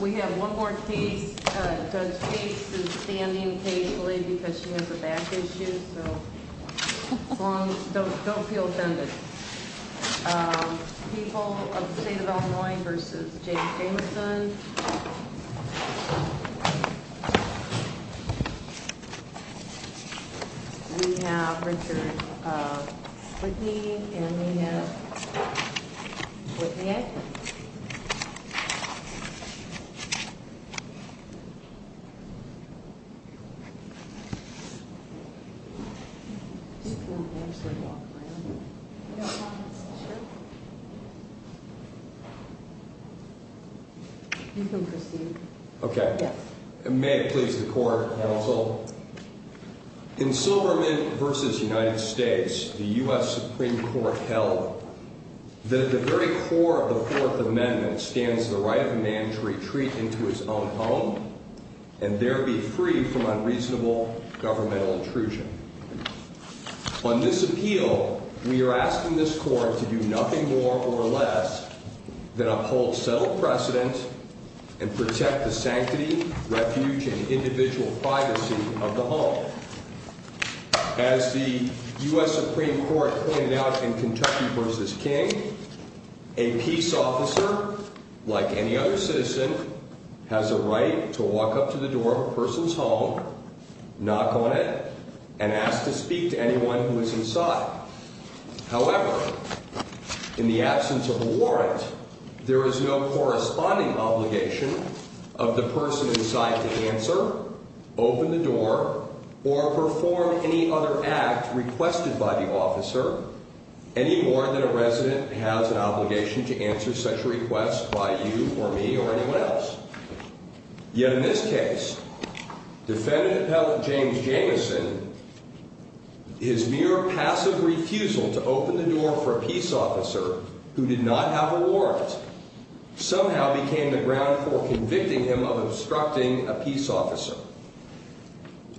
We have one more case. Judge Gates is standing occasionally because she has a back issue, so don't feel offended. People of the State of Illinois v. James Jamison We have Richard Whitney and we have Whitney A. In Silvermint v. United States, the U.S. Supreme Court held that at the very core of the Fourth Amendment, it stands the right of a man to retreat into his own home and there be free from unreasonable governmental intrusion. On this appeal, we are asking this Court to do nothing more or less than uphold settled precedent and protect the sanctity, refuge, and individual privacy of the home. As the U.S. Supreme Court pointed out in Kentucky v. King, a peace officer, like any other citizen, has a right to walk up to the door of a person's home, knock on it, and ask to speak to anyone who is inside. However, in the absence of a warrant, there is no corresponding obligation of the person inside to answer, open the door, or perform any other act requested by the officer, any more than a resident has an obligation to answer such a request by you or me or anyone else. Yet in this case, Defendant Appellant James Jamison, his mere passive refusal to open the door for a peace officer who did not have a warrant, somehow became the ground for convicting him of obstructing a peace officer.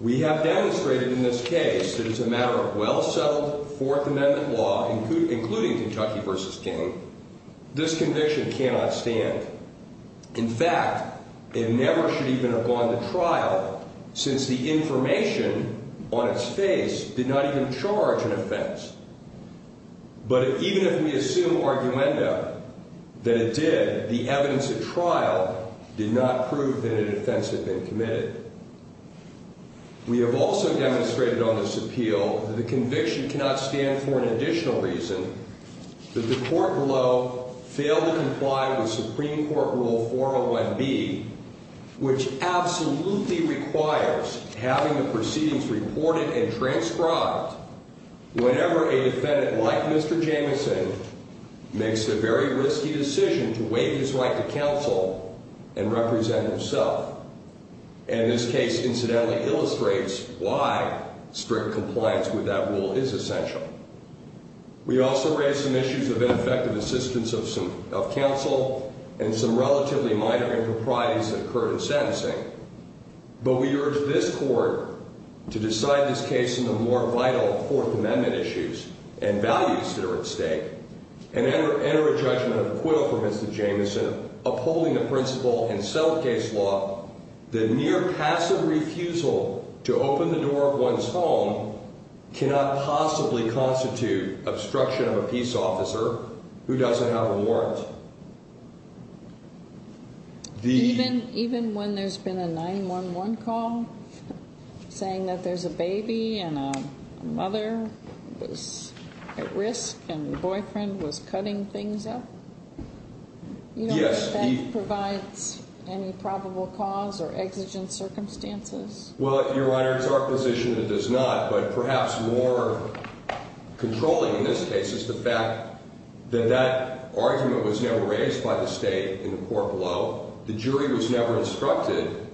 We have demonstrated in this case that as a matter of well-settled Fourth Amendment law, including Kentucky v. King, this conviction cannot stand. In fact, it never should even have gone to trial since the information on its face did not even charge an offense. But even if we assume arguenda that it did, the evidence at trial did not prove that an offense had been committed. We have also demonstrated on this appeal that the conviction cannot stand for an additional reason, that the court below failed to comply with Supreme Court Rule 401B, which absolutely requires having the proceedings reported and transcribed whenever a defendant like Mr. Jamison makes the very risky decision to waive his right to counsel and represent himself. And this case incidentally illustrates why strict compliance with that rule is essential. We also raise some issues of ineffective assistance of counsel and some relatively minor improprieties that occur in sentencing. But we urge this Court to decide this case in the more vital Fourth Amendment issues and values that are at stake and enter a judgment of acquittal for Mr. Jamison, upholding the principle in settled case law that mere passive refusal to open the door of one's home cannot possibly constitute obstruction of a peace officer who doesn't have a warrant. Even when there's been a 911 call saying that there's a baby and a mother who's at risk and the boyfriend was cutting things up? You don't expect it provides any probable cause or exigent circumstances? Well, Your Honor, it's our position it does not. But perhaps more controlling in this case is the fact that that argument was never raised by the State in the court below. The jury was never instructed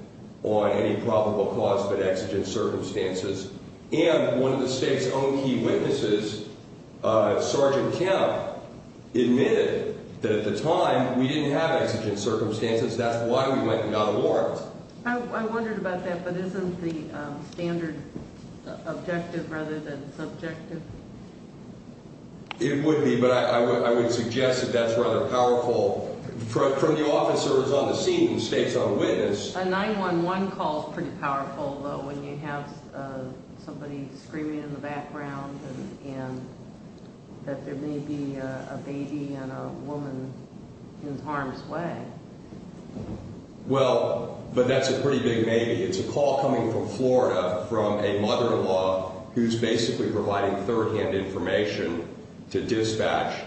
on any probable cause but exigent circumstances. And one of the State's own key witnesses, Sergeant Kemp, admitted that at the time we didn't have exigent circumstances. That's why we went without a warrant. I wondered about that, but isn't the standard objective rather than subjective? It would be, but I would suggest that that's rather powerful. From the officers on the scene, the State's own witness. A 911 call is pretty powerful, though, when you have somebody screaming in the background and that there may be a baby and a woman in harm's way. Well, but that's a pretty big maybe. It's a call coming from Florida from a mother-in-law who's basically providing third-hand information to dispatch.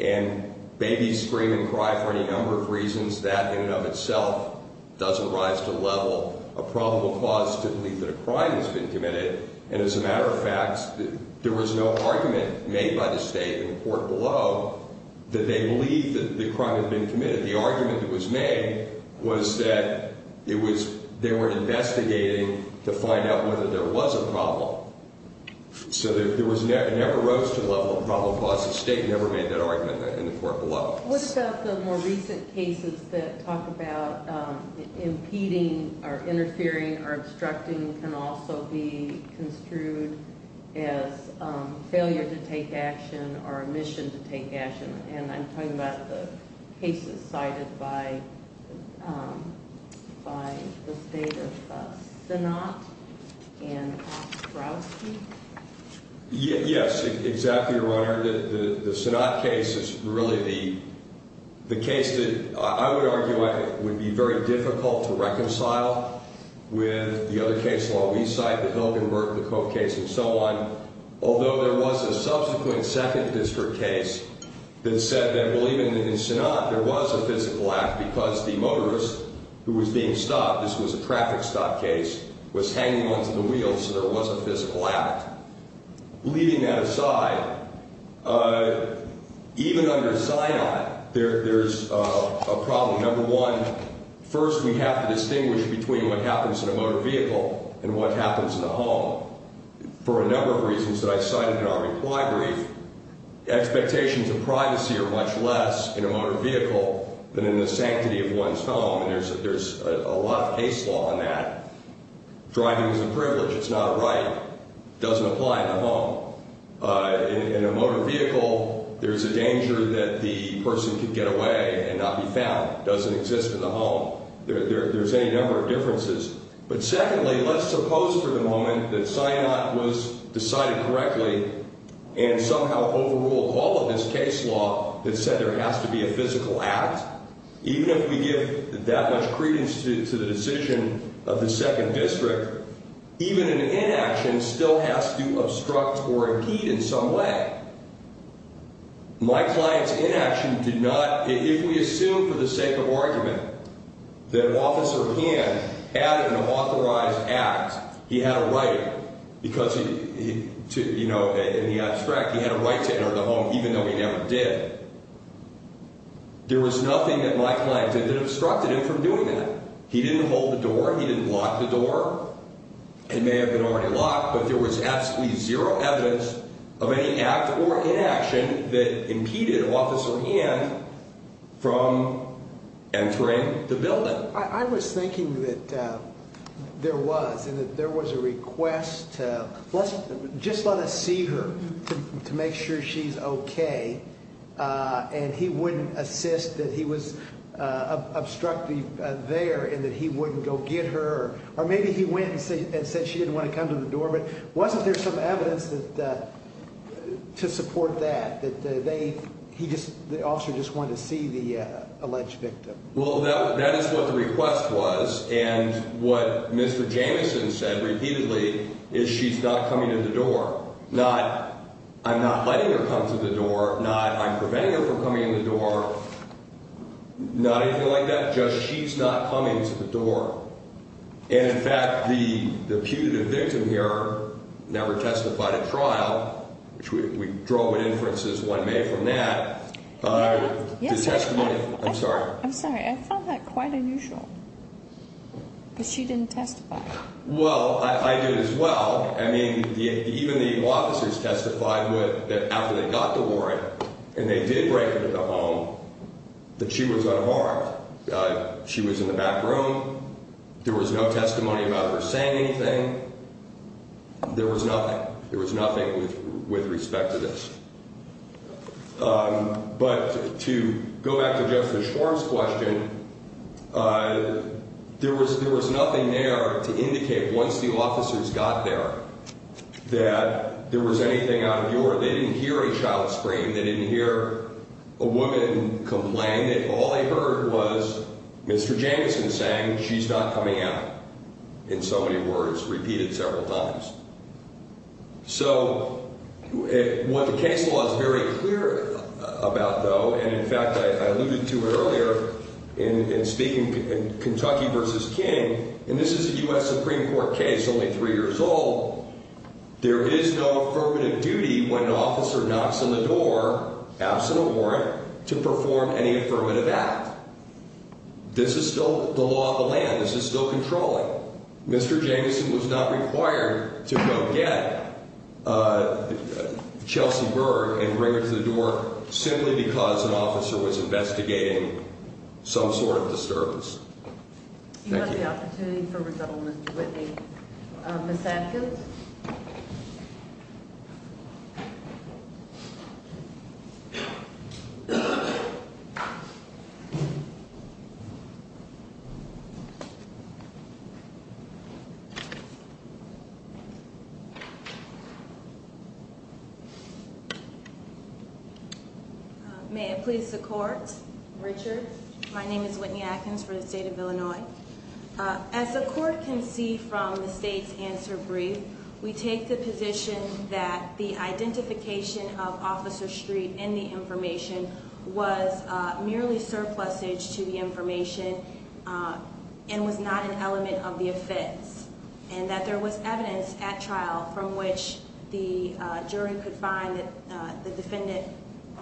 And babies scream and cry for any number of reasons. That in and of itself doesn't rise to the level of probable cause to believe that a crime has been committed. And as a matter of fact, there was no argument made by the State in the court below that they believed that the crime had been committed. The argument that was made was that they were investigating to find out whether there was a problem. So it never rose to the level of probable cause. The State never made that argument in the court below. What about the more recent cases that talk about impeding or interfering or obstructing can also be construed as failure to take action or omission to take action? And I'm talking about the cases cited by the State of Synod and Ostrowski? Yes, exactly, Your Honor. The Synod case is really the case that I would argue would be very difficult to reconcile with the other case law we cite, the Hildenburg-LaCroix case and so on. Although there was a subsequent second district case that said that, well, even in Synod, there was a physical act because the motorist who was being stopped, this was a traffic stop case, was hanging onto the wheels, so there was a physical act. Leaving that aside, even under Synod, there's a problem. Number one, first we have to distinguish between what happens in a motor vehicle and what happens in a home. For a number of reasons that I cited in our reply brief, expectations of privacy are much less in a motor vehicle than in the sanctity of one's home, and there's a lot of case law on that. Driving is a privilege. It's not a right. It doesn't apply in a home. In a motor vehicle, there's a danger that the person could get away and not be found. It doesn't exist in the home. There's any number of differences. But secondly, let's suppose for the moment that Synod was decided correctly and somehow overruled all of this case law that said there has to be a physical act. Even if we give that much credence to the decision of the second district, even an inaction still has to obstruct or impede in some way. My client's inaction did not, if we assume for the sake of argument that Officer Han had an authorized act, he had a right because, you know, in the abstract, he had a right to enter the home even though he never did. There was nothing that my client did that obstructed him from doing that. He didn't hold the door. He didn't lock the door. It may have been already locked, but there was absolutely zero evidence of any act or inaction that impeded Officer Han from entering the building. Or maybe he went and said she didn't want to come to the door. But wasn't there some evidence to support that, that the officer just wanted to see the alleged victim? Well, that is what the request was. And what Mr. Jamieson said repeatedly is she's not coming to the door. Not I'm not letting her come to the door. Not I'm preventing her from coming to the door. Not anything like that. Just she's not coming to the door. And, in fact, the putative victim here never testified at trial, which we drove with inferences one May from that. I'm sorry. I'm sorry. I found that quite unusual. But she didn't testify. Well, I did as well. I mean, even the officers testified that after they got the warrant and they did break into the home, that she was unharmed. She was in the back room. There was no testimony about her saying anything. There was nothing. There was nothing with respect to this. But to go back to Justice Schwartz's question, there was there was nothing there to indicate once the officers got there that there was anything out of your. They didn't hear a shout scream. They didn't hear a woman complain. All they heard was Mr. Jamieson saying she's not coming out. In so many words, repeated several times. So what the case law is very clear about, though, and, in fact, I alluded to it earlier in speaking in Kentucky v. King, and this is a U.S. Supreme Court case only three years old, there is no affirmative duty when an officer knocks on the door, absent a warrant, to perform any affirmative act. This is still the law of the land. This is still controlling. Mr. Jamieson was not required to go get Chelsea Berg and bring her to the door simply because an officer was investigating some sort of disturbance. Thank you. You have the opportunity for resettlement, Mr. Whitney. Ms. Adkins? May it please the court. Richard, my name is Whitney Adkins for the state of Illinois. As the court can see from the state's answer brief, we take the position that the identification of Officer Streep in the information was merely surplusage to the information and was not an element of the offense, and that there was evidence at trial from which the jury could find that the defendant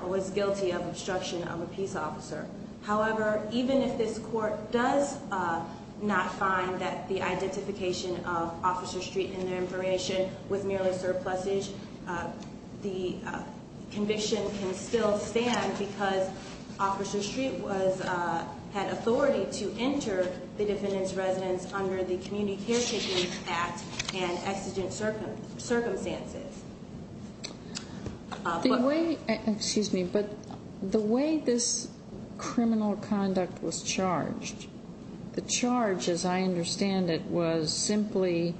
was guilty of obstruction of a peace officer. However, even if this court does not find that the identification of Officer Streep in the information was merely surplusage, the conviction can still stand because Officer Streep had authority to enter the defendant's residence under the Community Caretakers Act and exigent circumstances. Excuse me, but the way this criminal conduct was charged, the charge, as I understand it, was simply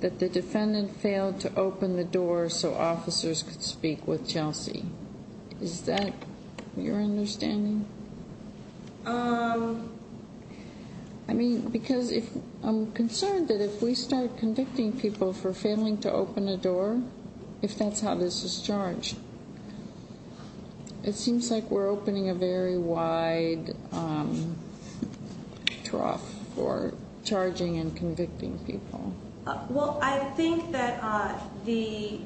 that the defendant failed to open the door so officers could speak with Chelsea. Is that your understanding? I mean, because I'm concerned that if we start convicting people for failing to open a door, if that's how this is charged, it seems like we're opening a very wide trough for charging and convicting people. Well, I think that the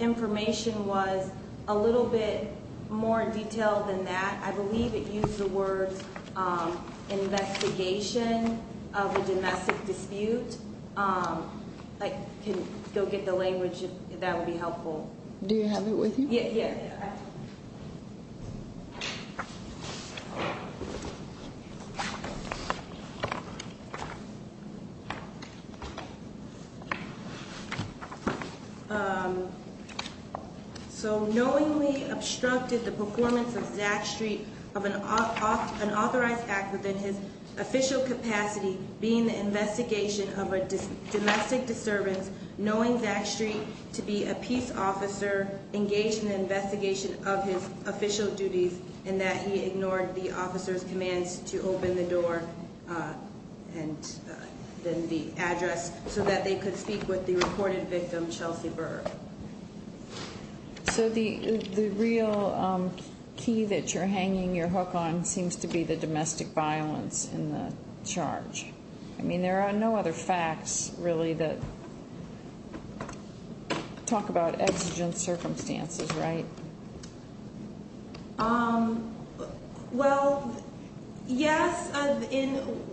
information was a little bit more detailed than that. I believe it used the words investigation of a domestic dispute. I can go get the language if that would be helpful. Do you have it with you? Yeah. So knowingly obstructed the performance of Zach Streep of an authorized act within his official capacity, being the investigation of a domestic disturbance, knowing Zach Streep to be a peace officer engaged in the investigation of his official duties, and that he ignored the officer's commands to open the door and then the address so that they could speak with the reported victim, Chelsea Burr. So the real key that you're hanging your hook on seems to be the domestic violence in the charge. I mean, there are no other facts really that talk about exigent circumstances, right? Well, yes.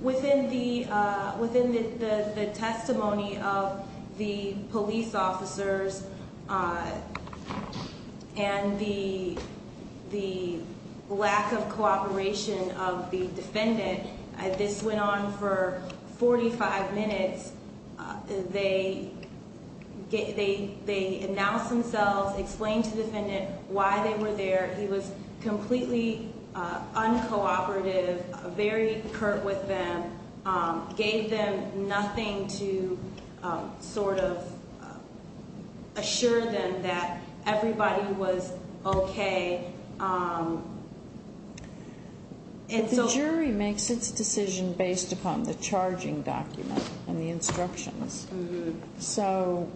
Within the testimony of the police officers and the lack of cooperation of the defendant, this went on for 45 minutes. They announced themselves, explained to the defendant why they were there. He was completely uncooperative, very curt with them, gave them nothing to sort of assure them that everybody was okay. The jury makes its decision based upon the charging document and the instructions. So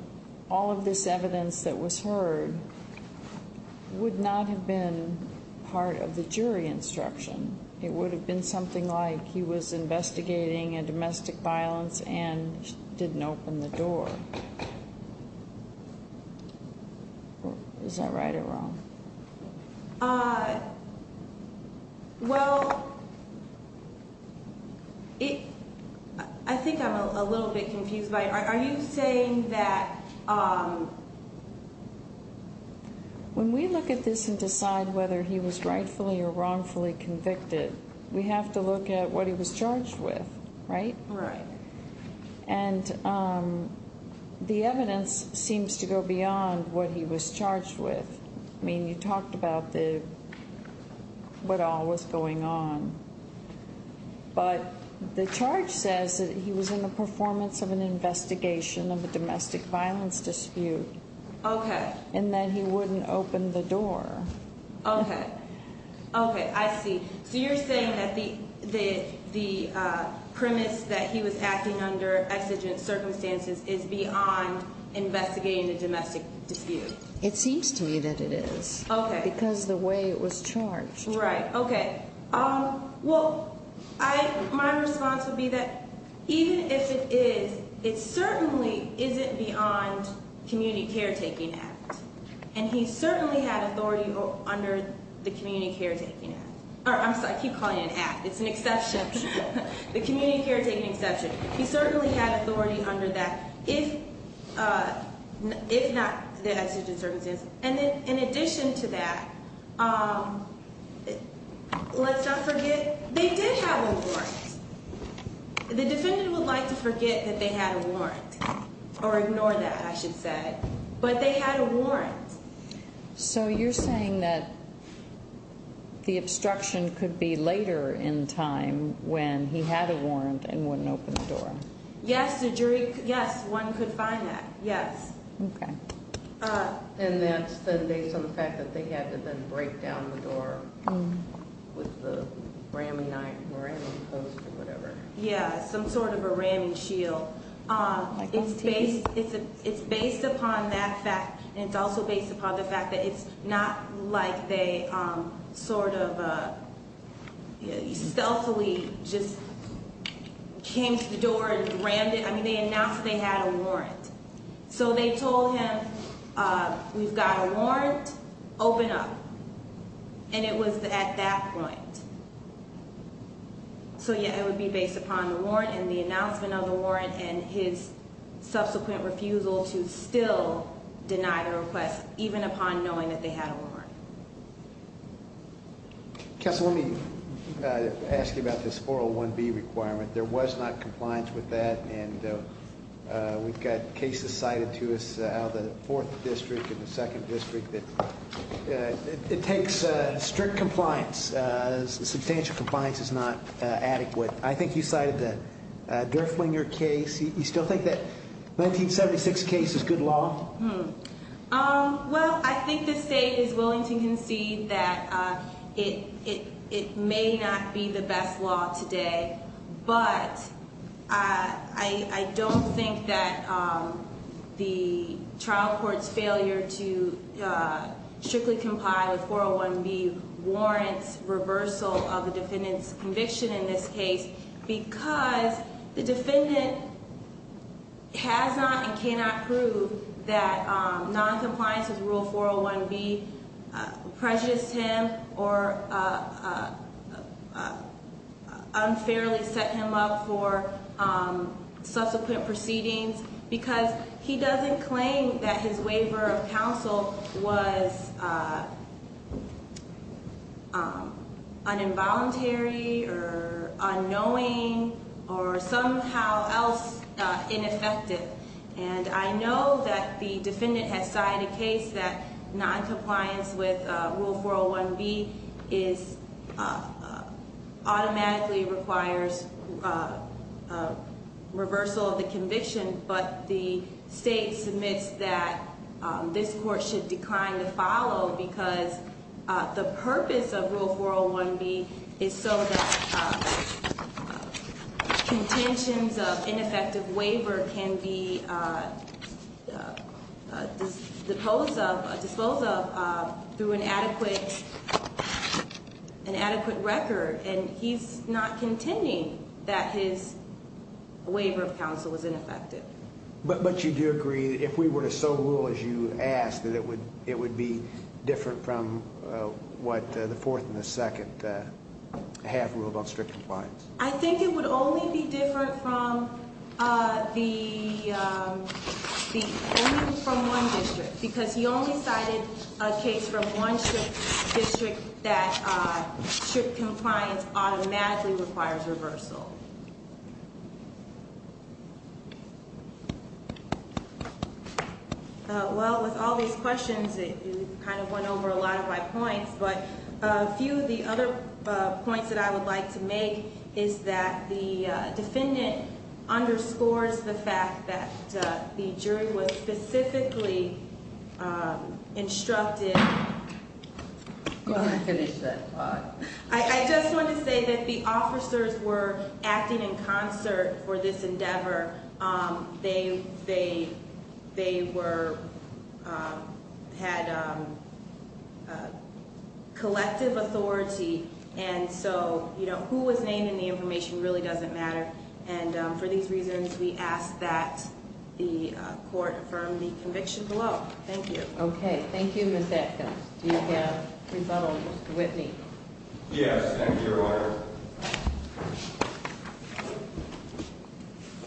all of this evidence that was heard would not have been part of the jury instruction. It would have been something like he was investigating a domestic violence and didn't open the door. Is that right or wrong? Well, I think I'm a little bit confused by it. Are you saying that when we look at this and decide whether he was rightfully or wrongfully convicted, we have to look at what he was charged with, right? Right. And the evidence seems to go beyond what he was charged with. I mean, you talked about what all was going on. But the charge says that he was in the performance of an investigation of a domestic violence dispute. Okay. And that he wouldn't open the door. Okay. Okay, I see. So you're saying that the premise that he was acting under exigent circumstances is beyond investigating a domestic dispute. It seems to me that it is. Okay. Because the way it was charged. Right. Okay. Well, my response would be that even if it is, it certainly isn't beyond community caretaking act. And he certainly had authority under the community caretaking act. I keep calling it an act. It's an exception. The community caretaking exception. He certainly had authority under that, if not the exigent circumstances. And in addition to that, let's not forget, they did have a warrant. The defendant would like to forget that they had a warrant. Or ignore that, I should say. But they had a warrant. So you're saying that the obstruction could be later in time when he had a warrant and wouldn't open the door. Yes, one could find that. Yes. Okay. And that's based on the fact that they had to then break down the door with the ramming post or whatever. Yeah, some sort of a ramming shield. It's based upon that fact. And it's also based upon the fact that it's not like they sort of stealthily just came to the door and rammed it. I mean, they announced they had a warrant. So they told him, we've got a warrant. Open up. And it was at that point. So, yeah, it would be based upon the warrant and the announcement of the warrant. And his subsequent refusal to still deny the request, even upon knowing that they had a warrant. Counsel, let me ask you about this 401B requirement. There was not compliance with that. And we've got cases cited to us out of the 4th District and the 2nd District that it takes strict compliance. Substantial compliance is not adequate. I think you cited the Durflinger case. You still think that 1976 case is good law? Well, I think the state is willing to concede that it may not be the best law today. But I don't think that the trial court's failure to strictly comply with 401B warrants reversal of the defendant's conviction in this case. Because the defendant has not and cannot prove that noncompliance with Rule 401B prejudiced him or unfairly set him up for subsequent proceedings. Because he doesn't claim that his waiver of counsel was un-involuntary or unknowing or somehow else ineffective. And I know that the defendant has cited a case that noncompliance with Rule 401B automatically requires reversal of the conviction. But the state submits that this court should decline to follow because the purpose of Rule 401B is so that contentions of ineffective waiver can be disposed of through an adequate record. And he's not contending that his waiver of counsel was ineffective. But you do agree that if we were to so rule as you asked that it would be different from what the fourth and the second half ruled on strict compliance? I think it would only be different from one district. Because he only cited a case from one district that strict compliance automatically requires reversal. Well, with all these questions, it kind of went over a lot of my points. But a few of the other points that I would like to make is that the defendant underscores the fact that the jury was specifically instructed. Go ahead and finish that thought. I just want to say that the officers were acting in concert for this endeavor. They had collective authority. And so who was named in the information really doesn't matter. And for these reasons, we ask that the court affirm the conviction below. Thank you. Okay. Thank you, Ms. Atkins. Do you have a rebuttal, Mr. Whitney? Yes, thank you, Your Honor.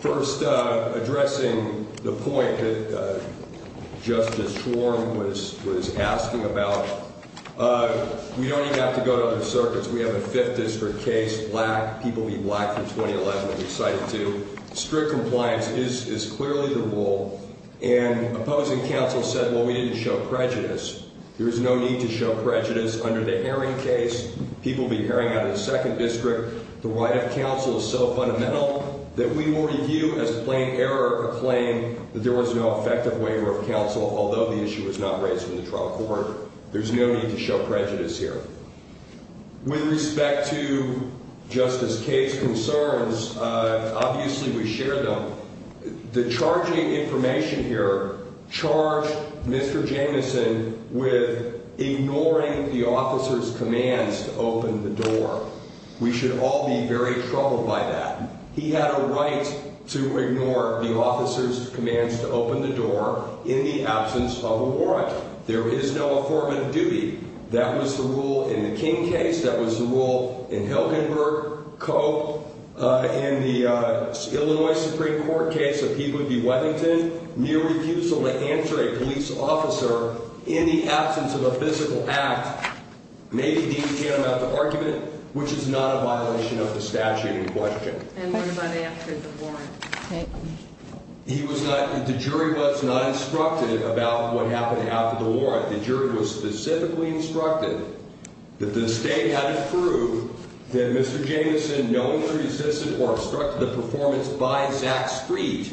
First, addressing the point that Justice Schwarm was asking about, we don't even have to go to other circuits. We have a fifth district case, black, people be black for 2011, I'm excited too. Strict compliance is clearly the rule. And opposing counsel said, well, we didn't show prejudice. There is no need to show prejudice under the Herring case. People be Herring out of the second district. The right of counsel is so fundamental that we will review as plain error a claim that there was no effective waiver of counsel, although the issue was not raised in the trial court. There's no need to show prejudice here. With respect to Justice Kaye's concerns, obviously we share them. The charging information here charged Mr. Jameson with ignoring the officer's commands to open the door. We should all be very troubled by that. He had a right to ignore the officer's commands to open the door in the absence of a warrant. There is no affirmative duty. That was the rule in the King case. That was the rule in Hilgenberg, Cope, and the Illinois Supreme Court case of Peabody-Weddington. Mere refusal to answer a police officer in the absence of a physical act may be deemed an amount of argument, which is not a violation of the statute in question. And what about after the warrant? He was not, the jury was not instructed about what happened after the warrant. The jury was specifically instructed that the state had to prove that Mr. Jameson knowingly resisted or obstructed the performance by Zach Street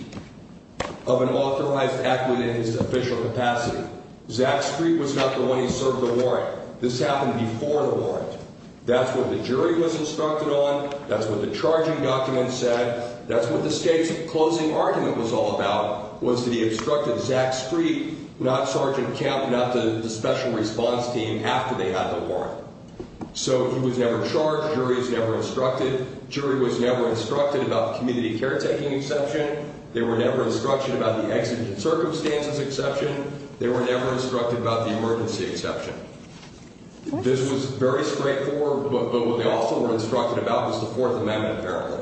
of an authorized act within his official capacity. Zach Street was not the one who served the warrant. This happened before the warrant. That's what the jury was instructed on. That's what the charging document said. That's what the state's closing argument was all about, was that he obstructed Zach Street, not Sergeant Kemp, not the special response team, after they had the warrant. So he was never charged. Jury was never instructed. Jury was never instructed about the community caretaking exception. They were never instructed about the exigent circumstances exception. They were never instructed about the emergency exception. This was very straightforward, but what they also were instructed about was the Fourth Amendment, apparently.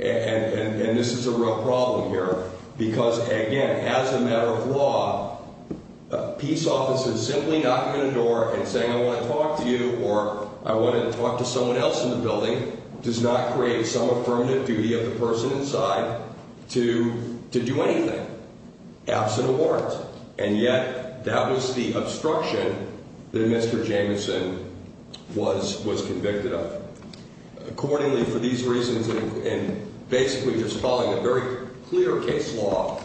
And this is a real problem here because, again, as a matter of law, a peace officer simply knocking on a door and saying, I want to talk to you, or I want to talk to someone else in the building, does not create some affirmative duty of the person inside to do anything, absent a warrant. And yet, that was the obstruction that Mr. Jamieson was convicted of. Accordingly, for these reasons, and basically just following a very clear case law,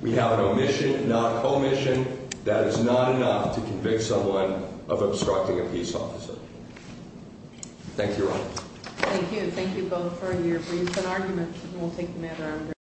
we have an omission, not a co-omission. That is not enough to convict someone of obstructing a peace officer. Thank you, Your Honor. Thank you. Thank you both for your briefs and arguments. We'll take them at our own risk.